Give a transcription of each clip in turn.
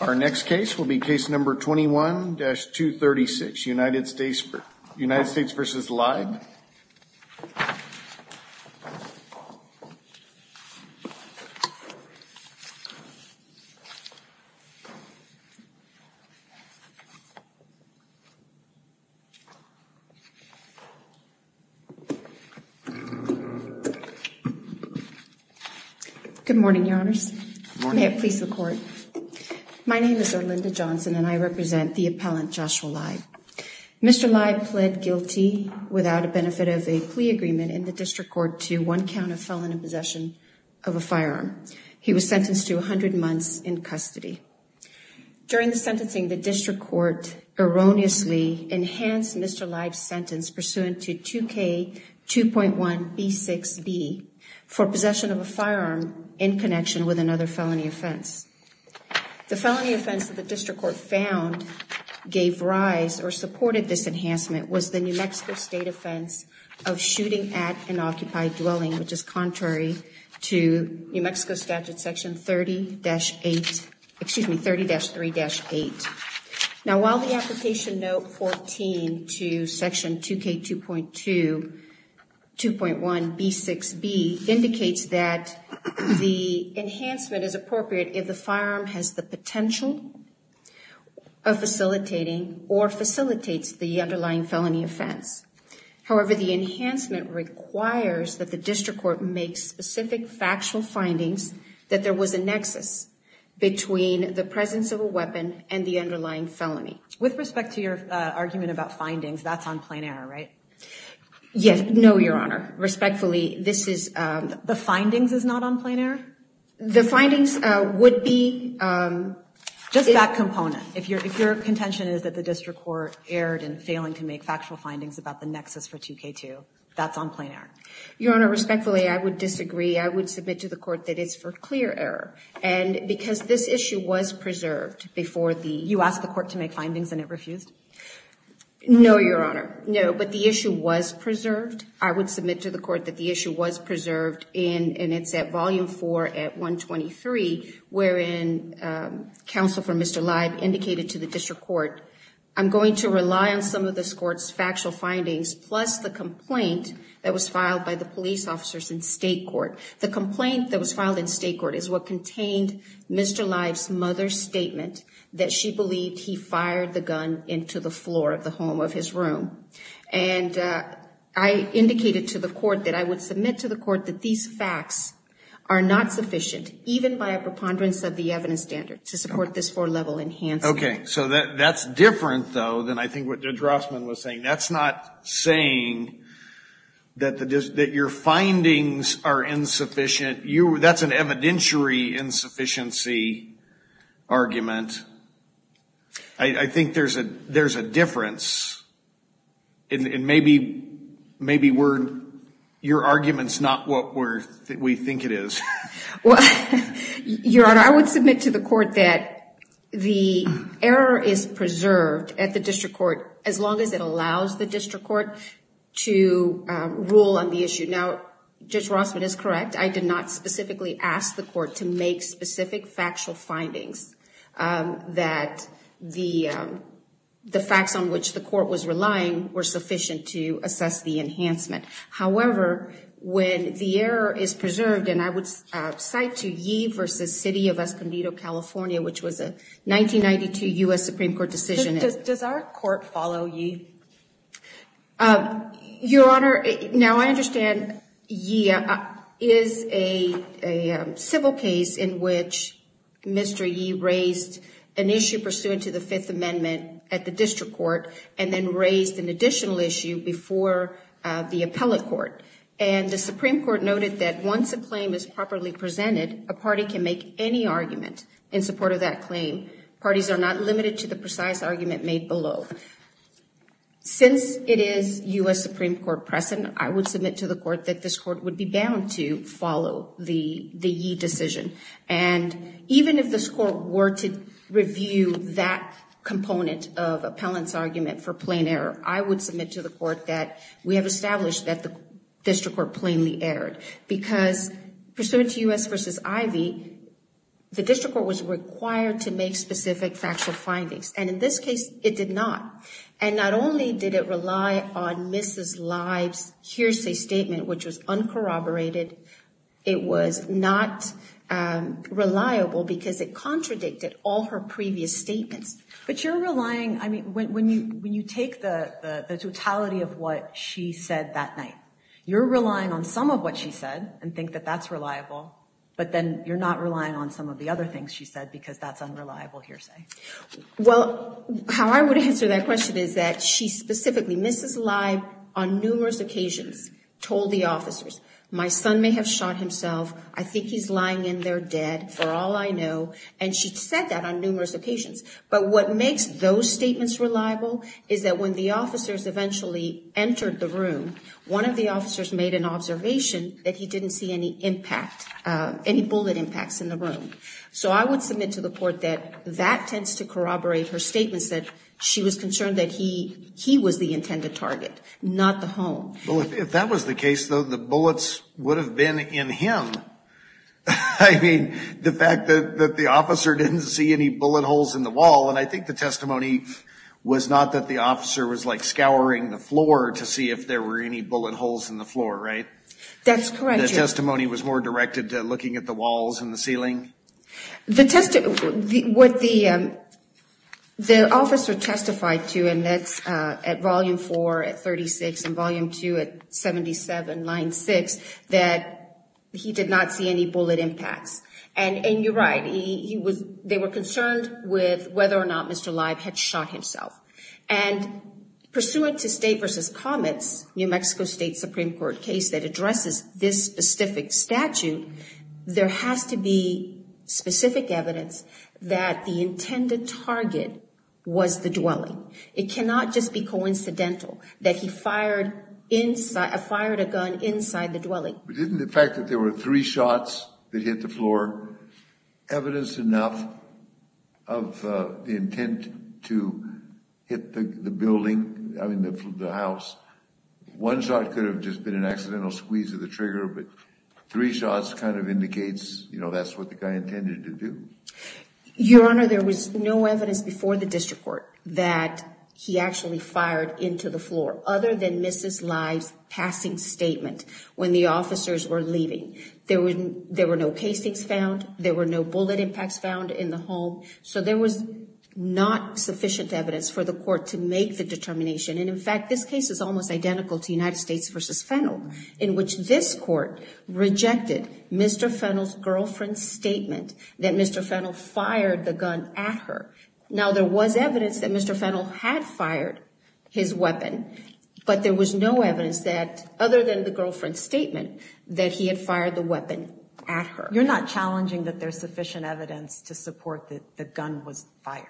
Our next case will be case number 21-236, United States v. Leib. Good morning, Your Honors. Good morning. May it please the Court. My name is Orlinda Johnson, and I represent the appellant Joshua Leib. Mr. Leib pled guilty without a benefit of a plea agreement in the District Court to one count of felon in possession of a firearm. He was sentenced to 100 months in custody. During the sentencing, the District Court erroneously enhanced Mr. Leib's sentence pursuant to 2K2.1b6b for possession of a firearm in connection with another felony offense. The felony offense that the District Court found gave rise or supported this enhancement was the New Mexico State offense of shooting at an occupied dwelling, which is contrary to New Mexico Statute Section 30-3-8. Now, while the application note 14 to Section 2K2.1b6b indicates that the enhancement is appropriate if the firearm has the potential of facilitating or facilitates the underlying felony offense. However, the enhancement requires that the District Court make specific factual findings that there was a nexus between the presence of a weapon and the underlying felony. With respect to your argument about findings, that's on plain error, right? Yes, no, Your Honor. Respectfully, this is... The findings is not on plain error? The findings would be... Just that component. If your contention is that the District Court erred in failing to make factual findings about the nexus for 2K2, that's on plain error. Your Honor, respectfully, I would disagree. I would submit to the court that it's for clear error. And because this issue was preserved before the... You asked the court to make findings and it refused? No, Your Honor. No, but the issue was preserved. I would submit to the court that the issue was preserved and it's at Volume 4 at 123, wherein counsel for Mr. Leib indicated to the District Court, I'm going to rely on some of this court's factual findings plus the complaint that was filed by the police officers in state court. The complaint that was filed in state court is what contained Mr. Leib's mother's statement that she believed he fired the gun into the floor of the home of his room. And I indicated to the court that I would submit to the court that these facts are not sufficient, even by a preponderance of the evidence standard to support this four-level enhancement. Okay. So that's different, though, than I think what Judge Rossman was saying. That's not saying that your findings are insufficient. That's an evidentiary insufficiency argument. I think there's a difference, and maybe your argument's not what we think it is. Well, Your Honor, I would submit to the court that the error is preserved at the District Court, as long as it allows the District Court to rule on the issue. Now, Judge Rossman is correct. I did not specifically ask the court to make specific factual findings that the facts on which the court was relying were sufficient to assess the enhancement. However, when the error is preserved, and I would cite to Yee v. City of Escondido, California, which was a 1992 U.S. Supreme Court decision. Does our court follow Yee? Your Honor, now I understand Yee is a civil case in which Mr. Yee raised an issue pursuant to the Fifth Amendment at the District Court, and then raised an additional issue before the appellate court. And the Supreme Court noted that once a claim is properly presented, a party can make any argument in support of that claim. Parties are not limited to the precise argument made below. Since it is U.S. Supreme Court precedent, I would submit to the court that this court would be bound to follow the Yee decision. And even if this court were to review that component of appellant's argument for plain error, I would submit to the court that we have established that the District Court plainly erred. Because pursuant to U.S. v. Ivey, the District Court was required to make specific factual findings. And in this case, it did not. And not only did it rely on Mrs. Live's hearsay statement, which was uncorroborated, it was not reliable because it contradicted all her previous statements. But you're relying, I mean, when you take the totality of what she said that night, you're relying on some of what she said and think that that's reliable, but then you're not relying on some of the other things she said because that's unreliable hearsay. Well, how I would answer that question is that she specifically, Mrs. Live, on numerous occasions, told the officers, my son may have shot himself. I think he's lying in there dead for all I know. And she said that on numerous occasions. But what makes those statements reliable is that when the officers eventually entered the room, one of the officers made an observation that he didn't see any impact, any bullet impacts in the room. So I would submit to the court that that tends to corroborate her statements that she was concerned that he was the intended target, not the home. Well, if that was the case, though, the bullets would have been in him. I mean, the fact that the officer didn't see any bullet holes in the wall. And I think the testimony was not that the officer was, like, scouring the floor to see if there were any bullet holes in the floor, right? That's correct, Your Honor. The testimony was more directed to looking at the walls and the ceiling? The officer testified to, and that's at Volume 4 at 36 and Volume 2 at 77, line 6, that he did not see any bullet impacts. And you're right, they were concerned with whether or not Mr. Live had shot himself. And pursuant to State v. Comets, New Mexico State Supreme Court case that addresses this specific statute, there has to be specific evidence that the intended target was the dwelling. It cannot just be coincidental that he fired a gun inside the dwelling. But isn't the fact that there were three shots that hit the floor evidence enough of the intent to hit the building, I mean, the house? One shot could have just been an accidental squeeze of the trigger, but three shots kind of indicates, you know, that's what the guy intended to do. Your Honor, there was no evidence before the district court that he actually fired into the floor, other than Mrs. Live's passing statement when the officers were leaving. There were no casings found. There were no bullet impacts found in the home. So there was not sufficient evidence for the court to make the determination. And, in fact, this case is almost identical to United States v. Fennell, in which this court rejected Mr. Fennell's girlfriend's statement that Mr. Fennell fired the gun at her. Now, there was evidence that Mr. Fennell had fired his weapon, but there was no evidence that, other than the girlfriend's statement, that he had fired the weapon at her. You're not challenging that there's sufficient evidence to support that the gun was fired?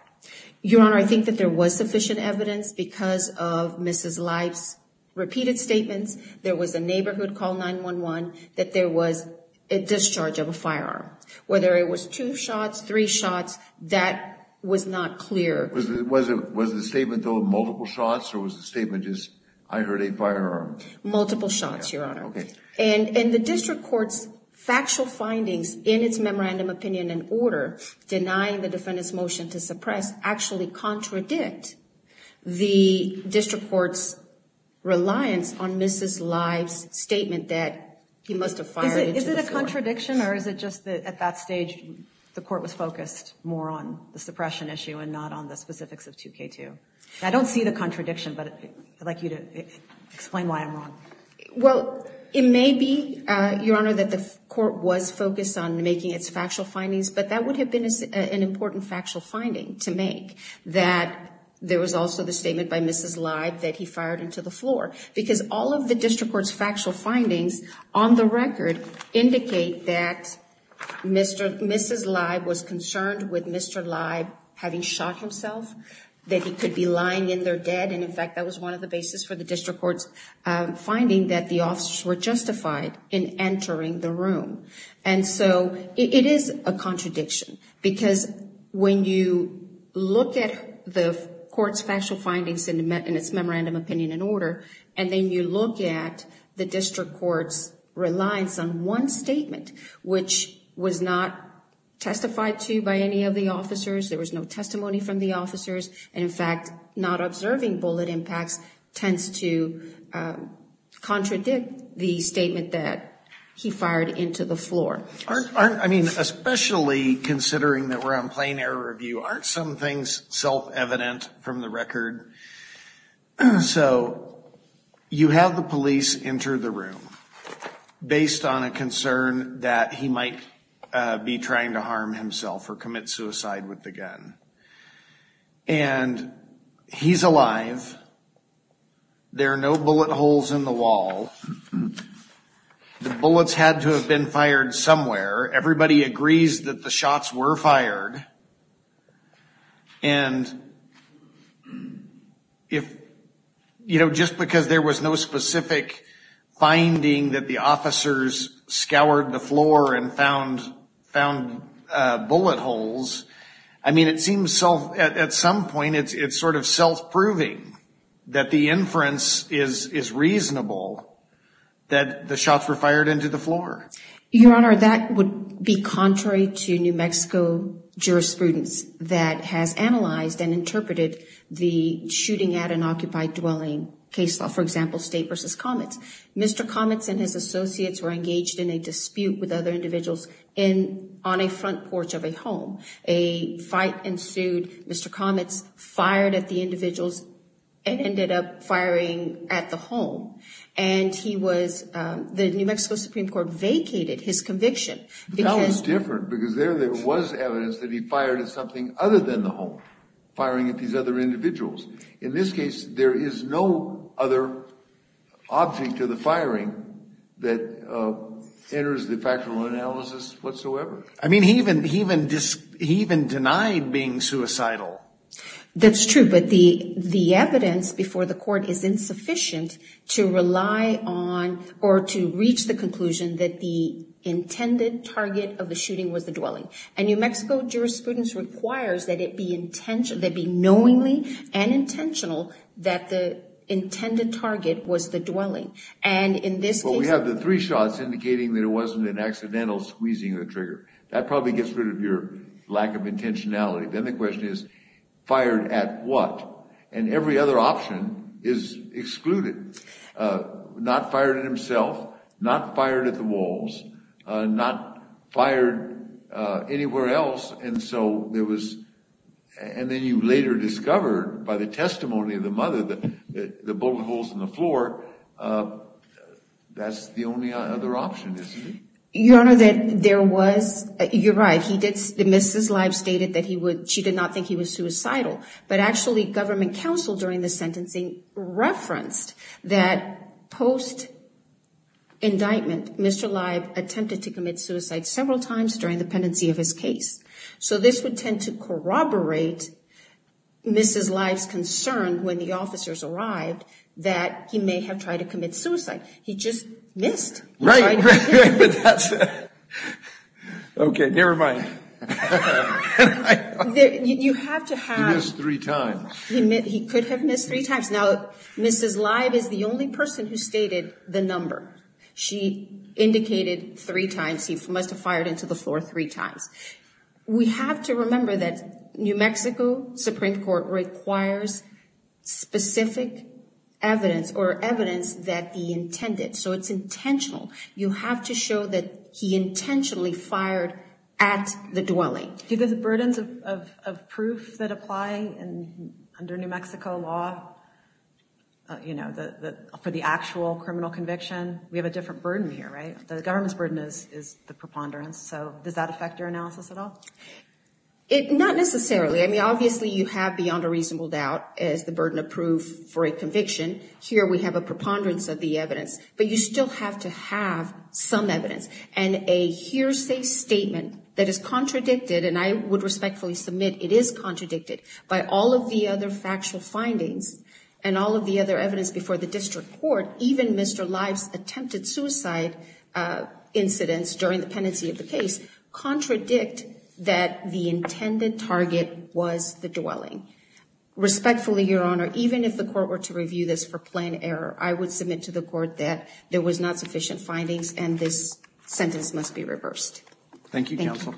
Your Honor, I think that there was sufficient evidence because of Mrs. Live's repeated statements. There was a neighborhood call 911 that there was a discharge of a firearm. Whether it was two shots, three shots, that was not clear. Was the statement, though, multiple shots, or was the statement just, I heard a firearm? Multiple shots, Your Honor. Okay. And the district court's factual findings in its memorandum opinion and order denying the defendant's motion to suppress actually contradict the district court's reliance on Mrs. Live's statement that he must have fired into the floor. Is it a contradiction, or is it just that, at that stage, the court was focused more on the suppression issue and not on the specifics of 2K2? I don't see the contradiction, but I'd like you to explain why I'm wrong. Well, it may be, Your Honor, that the court was focused on making its factual findings, but that would have been an important factual finding to make, that there was also the statement by Mrs. Live that he fired into the floor, because all of the district court's factual findings, on the record, indicate that Mrs. Live was concerned with Mr. Live having shot himself, that he could be lying in there dead, and, in fact, that was one of the basis for the district court's finding that the officers were justified in entering the room. And so it is a contradiction, because when you look at the court's factual findings in its memorandum opinion and order, and then you look at the district court's reliance on one statement, which was not testified to by any of the officers, there was no testimony from the officers, and, in fact, not observing bullet impacts tends to contradict the statement that he fired into the floor. I mean, especially considering that we're on plain air review, aren't some things self-evident from the record? So you have the police enter the room based on a concern that he might be trying to harm himself or commit suicide with the gun, and he's alive, there are no bullet holes in the wall, the bullets had to have been fired somewhere, everybody agrees that the shots were fired, and, you know, just because there was no specific finding that the officers scoured the floor and found bullet holes, I mean, it seems at some point it's sort of self-proving that the inference is reasonable that the shots were fired into the floor. Your Honor, that would be contrary to New Mexico jurisprudence that has analyzed and interpreted the shooting at an occupied dwelling case law, for example, State v. Comets. Mr. Comets and his associates were engaged in a dispute with other individuals on a front porch of a home. A fight ensued, Mr. Comets fired at the individuals and ended up firing at the home, and he was, the New Mexico Supreme Court vacated his conviction. That was different, because there was evidence that he fired at something other than the home, firing at these other individuals. In this case, there is no other object of the firing that enters the factual analysis whatsoever. I mean, he even denied being suicidal. That's true, but the evidence before the court is insufficient to rely on or to reach the conclusion that the intended target of the shooting was the dwelling. And New Mexico jurisprudence requires that it be knowingly and intentional that the intended target was the dwelling. Well, we have the three shots indicating that it wasn't an accidental squeezing of the trigger. That probably gets rid of your lack of intentionality. Then the question is, fired at what? And every other option is excluded. Not fired at himself, not fired at the walls, not fired anywhere else. And so there was, and then you later discovered by the testimony of the mother that the bullet holes in the floor, that's the only other option, isn't it? Your Honor, that there was, you're right, he did, Mrs. Leib stated that he would, she did not think he was suicidal. But actually, government counsel during the sentencing referenced that post-indictment, Mr. Leib attempted to commit suicide several times during the pendency of his case. So this would tend to corroborate Mrs. Leib's concern when the officers arrived that he may have tried to commit suicide. He just missed. Right, right, but that's, okay, never mind. You have to have. He missed three times. He could have missed three times. Now, Mrs. Leib is the only person who stated the number. She indicated three times he must have fired into the floor three times. We have to remember that New Mexico Supreme Court requires specific evidence or evidence that he intended. So it's intentional. You have to show that he intentionally fired at the dwelling. Do the burdens of proof that apply under New Mexico law, you know, for the actual criminal conviction, we have a different burden here, right? The government's burden is the preponderance. So does that affect your analysis at all? Not necessarily. I mean, obviously, you have beyond a reasonable doubt is the burden of proof for a conviction. Here we have a preponderance of the evidence, but you still have to have some evidence. And a hearsay statement that is contradicted, and I would respectfully submit it is contradicted, by all of the other factual findings and all of the other evidence before the district court, even Mr. Leib's attempted suicide incidents during the pendency of the case, contradict that the intended target was the dwelling. Respectfully, Your Honor, even if the court were to review this for plan error, I would submit to the court that there was not sufficient findings and this sentence must be reversed. Thank you, Counsel.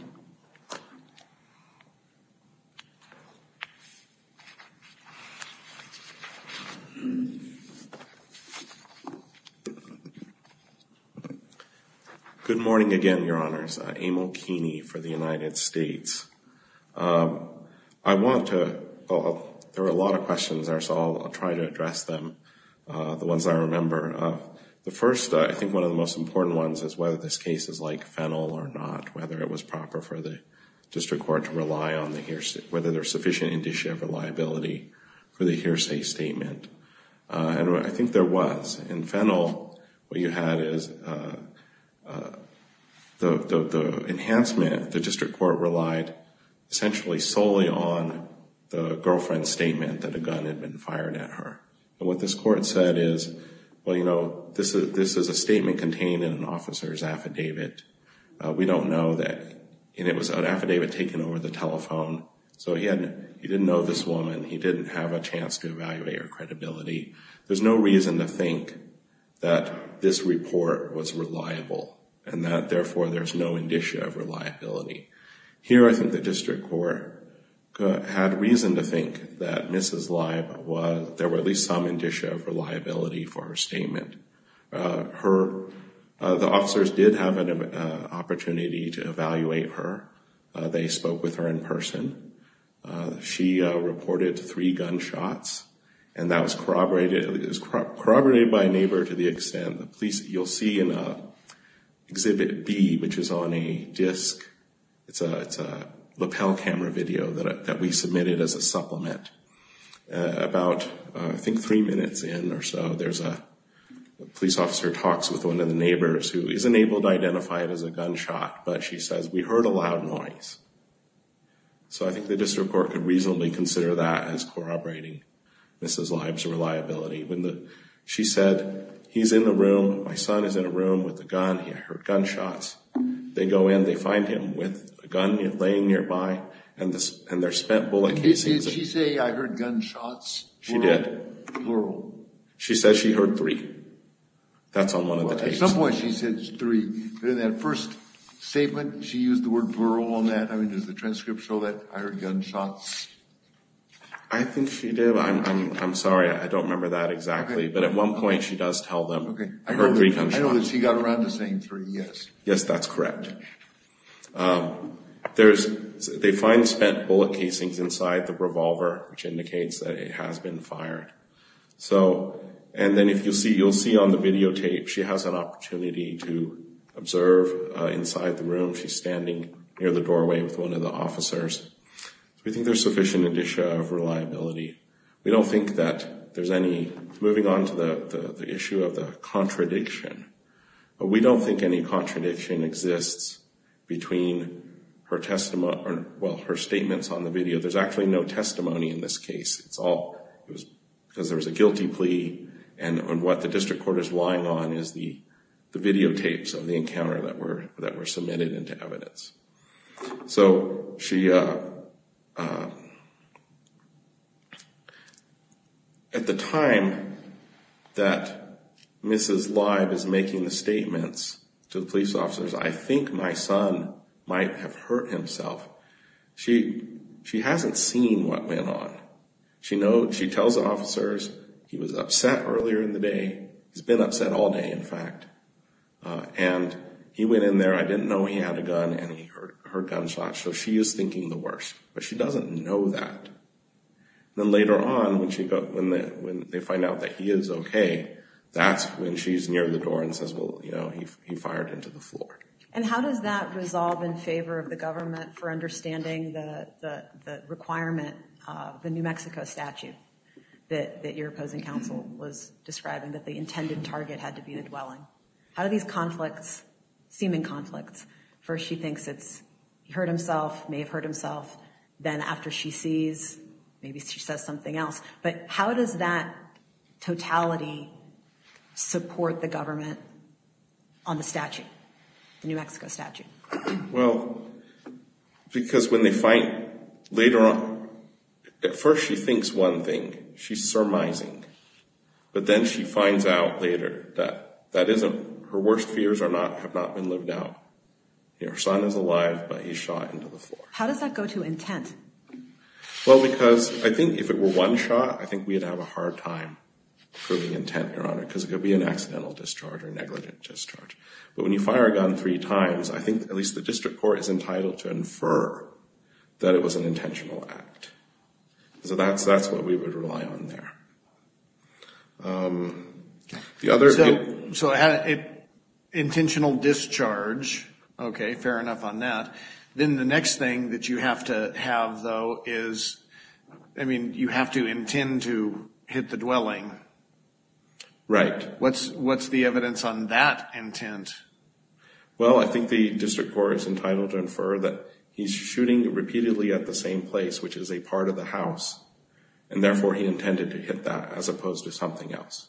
Good morning again, Your Honors. Emil Keeney for the United States. I want to, there are a lot of questions there, so I'll try to address them, the ones I remember. The first, I think one of the most important ones is whether this case is like Fennell or not, whether it was proper for the district court to rely on the hearsay, whether there's sufficient indicia of reliability for the hearsay statement. And I think there was. In Fennell, what you had is the enhancement, the district court relied essentially solely on the girlfriend's statement that a gun had been fired at her. And what this court said is, well, you know, this is a statement contained in an officer's affidavit. We don't know that, and it was an affidavit taken over the telephone, so he didn't know this woman. He didn't have a chance to evaluate her credibility. There's no reason to think that this report was reliable and that, therefore, there's no indicia of reliability. Here, I think the district court had reason to think that Mrs. Leib was, there were at least some indicia of reliability for her statement. Her, the officers did have an opportunity to evaluate her. They spoke with her in person. She reported three gunshots, and that was corroborated by a neighbor to the extent that police, you'll see in Exhibit B, which is on a disc, it's a lapel camera video that we submitted as a supplement. About, I think, three minutes in or so, there's a police officer talks with one of the neighbors who isn't able to identify it as a gunshot, but she says, we heard a loud noise. So I think the district court could reasonably consider that as corroborating Mrs. Leib's reliability. She said, he's in the room, my son is in a room with a gun, I heard gunshots. They go in, they find him with a gun laying nearby, and they're spent bullet casings. Did she say, I heard gunshots? She did. Plural. That's on one of the tapes. At some point she said three, but in that first statement, she used the word plural on that. I mean, does the transcript show that I heard gunshots? I think she did. I'm sorry, I don't remember that exactly. But at one point she does tell them, I heard three gunshots. I know that she got around to saying three, yes. Yes, that's correct. They find spent bullet casings inside the revolver, which indicates that it has been fired. And then you'll see on the videotape, she has an opportunity to observe inside the room. She's standing near the doorway with one of the officers. We think there's sufficient indicia of reliability. We don't think that there's any... Moving on to the issue of the contradiction. We don't think any contradiction exists between her statements on the video. There's actually no testimony in this case. Because there was a guilty plea, and what the district court is lying on is the videotapes of the encounter that were submitted into evidence. At the time that Mrs. Leib is making the statements to the police officers, I think my son might have hurt himself. She hasn't seen what went on. She tells the officers he was upset earlier in the day. He's been upset all day, in fact. And he went in there, I didn't know he had a gun, and he heard gunshots. So she is thinking the worst. But she doesn't know that. Then later on, when they find out that he is okay, that's when she's near the door and says, well, he fired into the floor. And how does that resolve in favor of the government for understanding the requirement of the New Mexico statute that your opposing counsel was describing, that the intended target had to be the dwelling? How do these conflicts seem in conflict? First she thinks he hurt himself, may have hurt himself. Then after she sees, maybe she says something else. But how does that totality support the government on the statute? The New Mexico statute. Well, because when they find later on, at first she thinks one thing. She's surmising. But then she finds out later that that isn't, her worst fears have not been lived out. Your son is alive, but he's shot into the floor. How does that go to intent? Well, because I think if it were one shot, I think we'd have a hard time proving intent, Your Honor. Because it could be an accidental discharge or negligent discharge. But when you fire a gun three times, I think at least the district court is entitled to infer that it was an intentional act. So that's what we would rely on there. So intentional discharge, okay, fair enough on that. Then the next thing that you have to have, though, is, I mean, you have to intend to hit the dwelling. Right. What's the evidence on that intent? Well, I think the district court is entitled to infer that he's shooting repeatedly at the same place, which is a part of the house. And therefore, he intended to hit that as opposed to something else.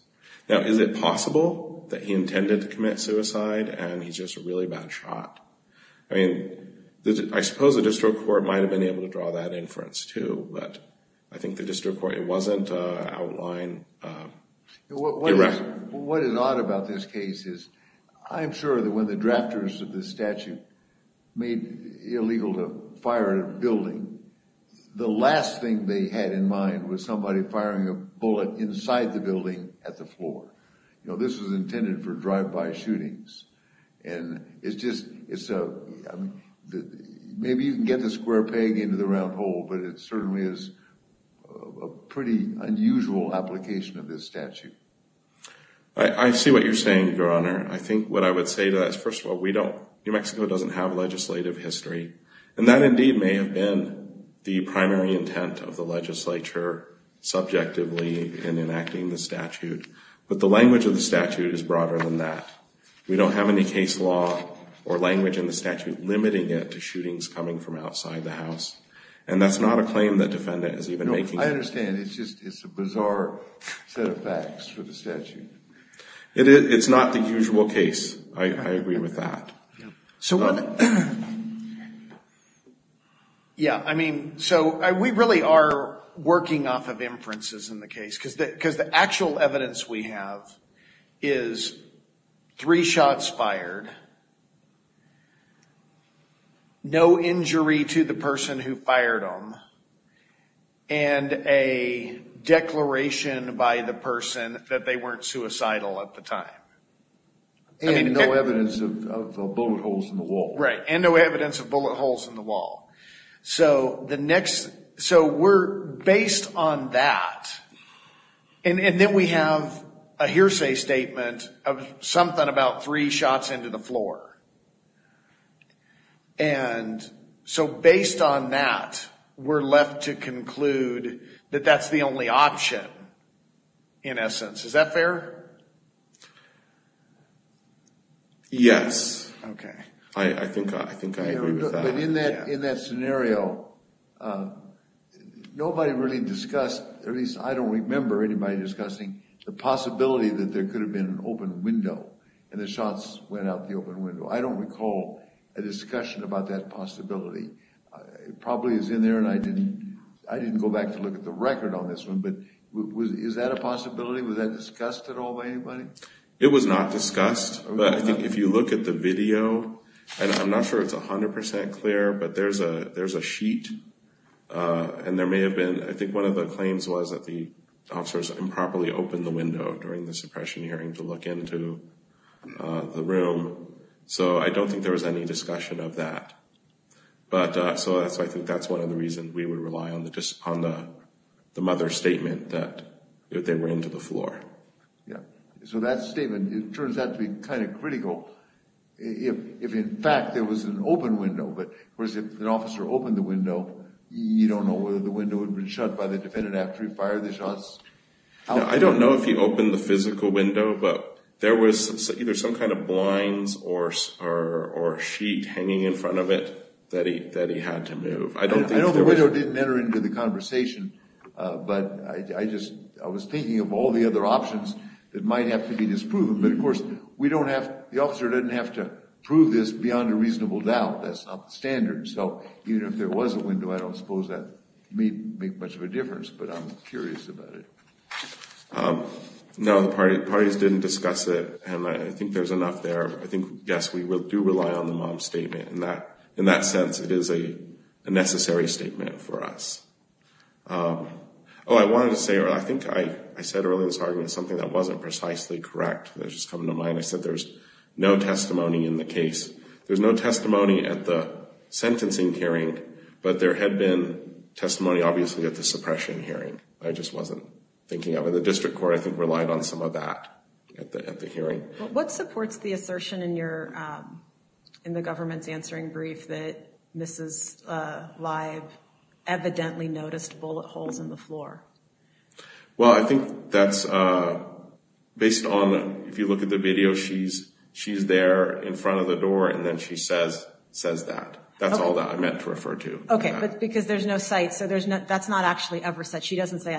Now, is it possible that he intended to commit suicide and he's just a really bad shot? I mean, I suppose the district court might have been able to draw that inference, too. But I think the district court, it wasn't outlined. What is odd about this case is I'm sure that when the drafters of this statute made it illegal to fire a building, the last thing they had in mind was somebody firing a bullet inside the building at the floor. You know, this was intended for drive-by shootings. And it's just, maybe you can get the square peg into the round hole, but it certainly is a pretty unusual application of this statute. I see what you're saying, Your Honor. I think what I would say to that is, first of all, New Mexico doesn't have legislative history. And that, indeed, may have been the primary intent of the legislature subjectively in enacting the statute. But the language of the statute is broader than that. We don't have any case law or language in the statute limiting it to shootings coming from outside the house. And that's not a claim that defendant is even making. I understand. It's just a bizarre set of facts for the statute. It's not the usual case. I agree with that. Yeah, I mean, so we really are working off of inferences in the case. Because the actual evidence we have is three shots fired, no injury to the person who fired them, and a declaration by the person that they weren't suicidal at the time. And no evidence of bullet holes in the wall. Right. And no evidence of bullet holes in the wall. So the next, so we're based on that. And then we have a hearsay statement of something about three shots into the floor. And so based on that, we're left to conclude that that's the only option, in essence. Is that fair? Yes. Okay. I think I agree with that. But in that scenario, nobody really discussed, at least I don't remember anybody discussing, the possibility that there could have been an open window and the shots went out the open window. I don't recall a discussion about that possibility. It probably is in there, and I didn't go back to look at the record on this one. But is that a possibility? Was that discussed at all by anybody? It was not discussed. But I think if you look at the video, and I'm not sure it's 100% clear, but there's a sheet. And there may have been, I think one of the claims was that the officers improperly opened the window during the suppression hearing to look into the room. So I don't think there was any discussion of that. So I think that's one of the reasons we would rely on the mother's statement that they were into the floor. Yeah. So that statement, it turns out to be kind of critical if in fact there was an open window. But if an officer opened the window, you don't know whether the window would have been shut by the defendant after he fired the shots. I don't know if he opened the physical window, but there was either some kind of blinds or a sheet hanging in front of it that he had to move. I know the window didn't enter into the conversation, but I was thinking of all the other options that might have to be disproven. But, of course, the officer doesn't have to prove this beyond a reasonable doubt. That's not the standard. So even if there was a window, I don't suppose that would make much of a difference. But I'm curious about it. No, the parties didn't discuss it, and I think there's enough there. I think, yes, we do rely on the mom's statement. In that sense, it is a necessary statement for us. Oh, I wanted to say, I think I said earlier in this argument something that wasn't precisely correct that's just come to mind. I said there's no testimony in the case. There's no testimony at the sentencing hearing, but there had been testimony obviously at the suppression hearing. I just wasn't thinking of it. The district court, I think, relied on some of that at the hearing. What supports the assertion in the government's answering brief that Mrs. Leib evidently noticed bullet holes in the floor? Well, I think that's based on, if you look at the video, she's there in front of the door, and then she says that. That's all that I meant to refer to. Okay, but because there's no sight, so that's not actually ever said. She doesn't say,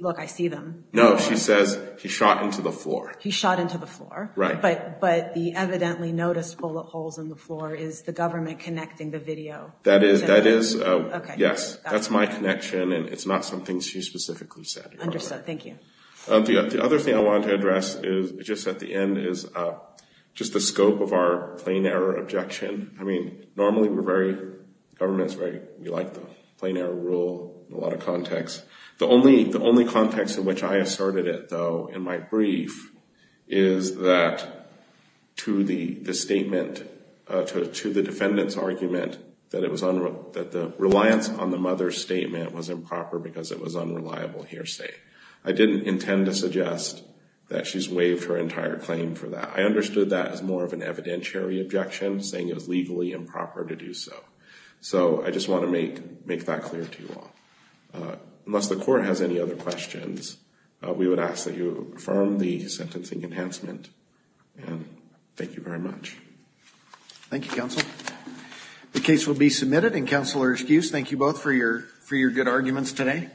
look, I see them. No, she says, he shot into the floor. He shot into the floor. Right. But the evidently noticed bullet holes in the floor is the government connecting the video. That is, yes. That's my connection, and it's not something she specifically said. Understood. Thank you. The other thing I wanted to address just at the end is just the scope of our plain error objection. I mean, normally we're very, government's very, we like the plain error rule in a lot of contexts. The only context in which I asserted it, though, in my brief, is that to the defendant's argument that the reliance on the mother's statement was improper because it was unreliable hearsay. I didn't intend to suggest that she's waived her entire claim for that. I understood that as more of an evidentiary objection, saying it was legally improper to do so. So I just want to make that clear to you all. Unless the court has any other questions, we would ask that you affirm the sentencing enhancement. And thank you very much. Thank you, counsel. The case will be submitted, and counselors, please, thank you both for your good arguments today.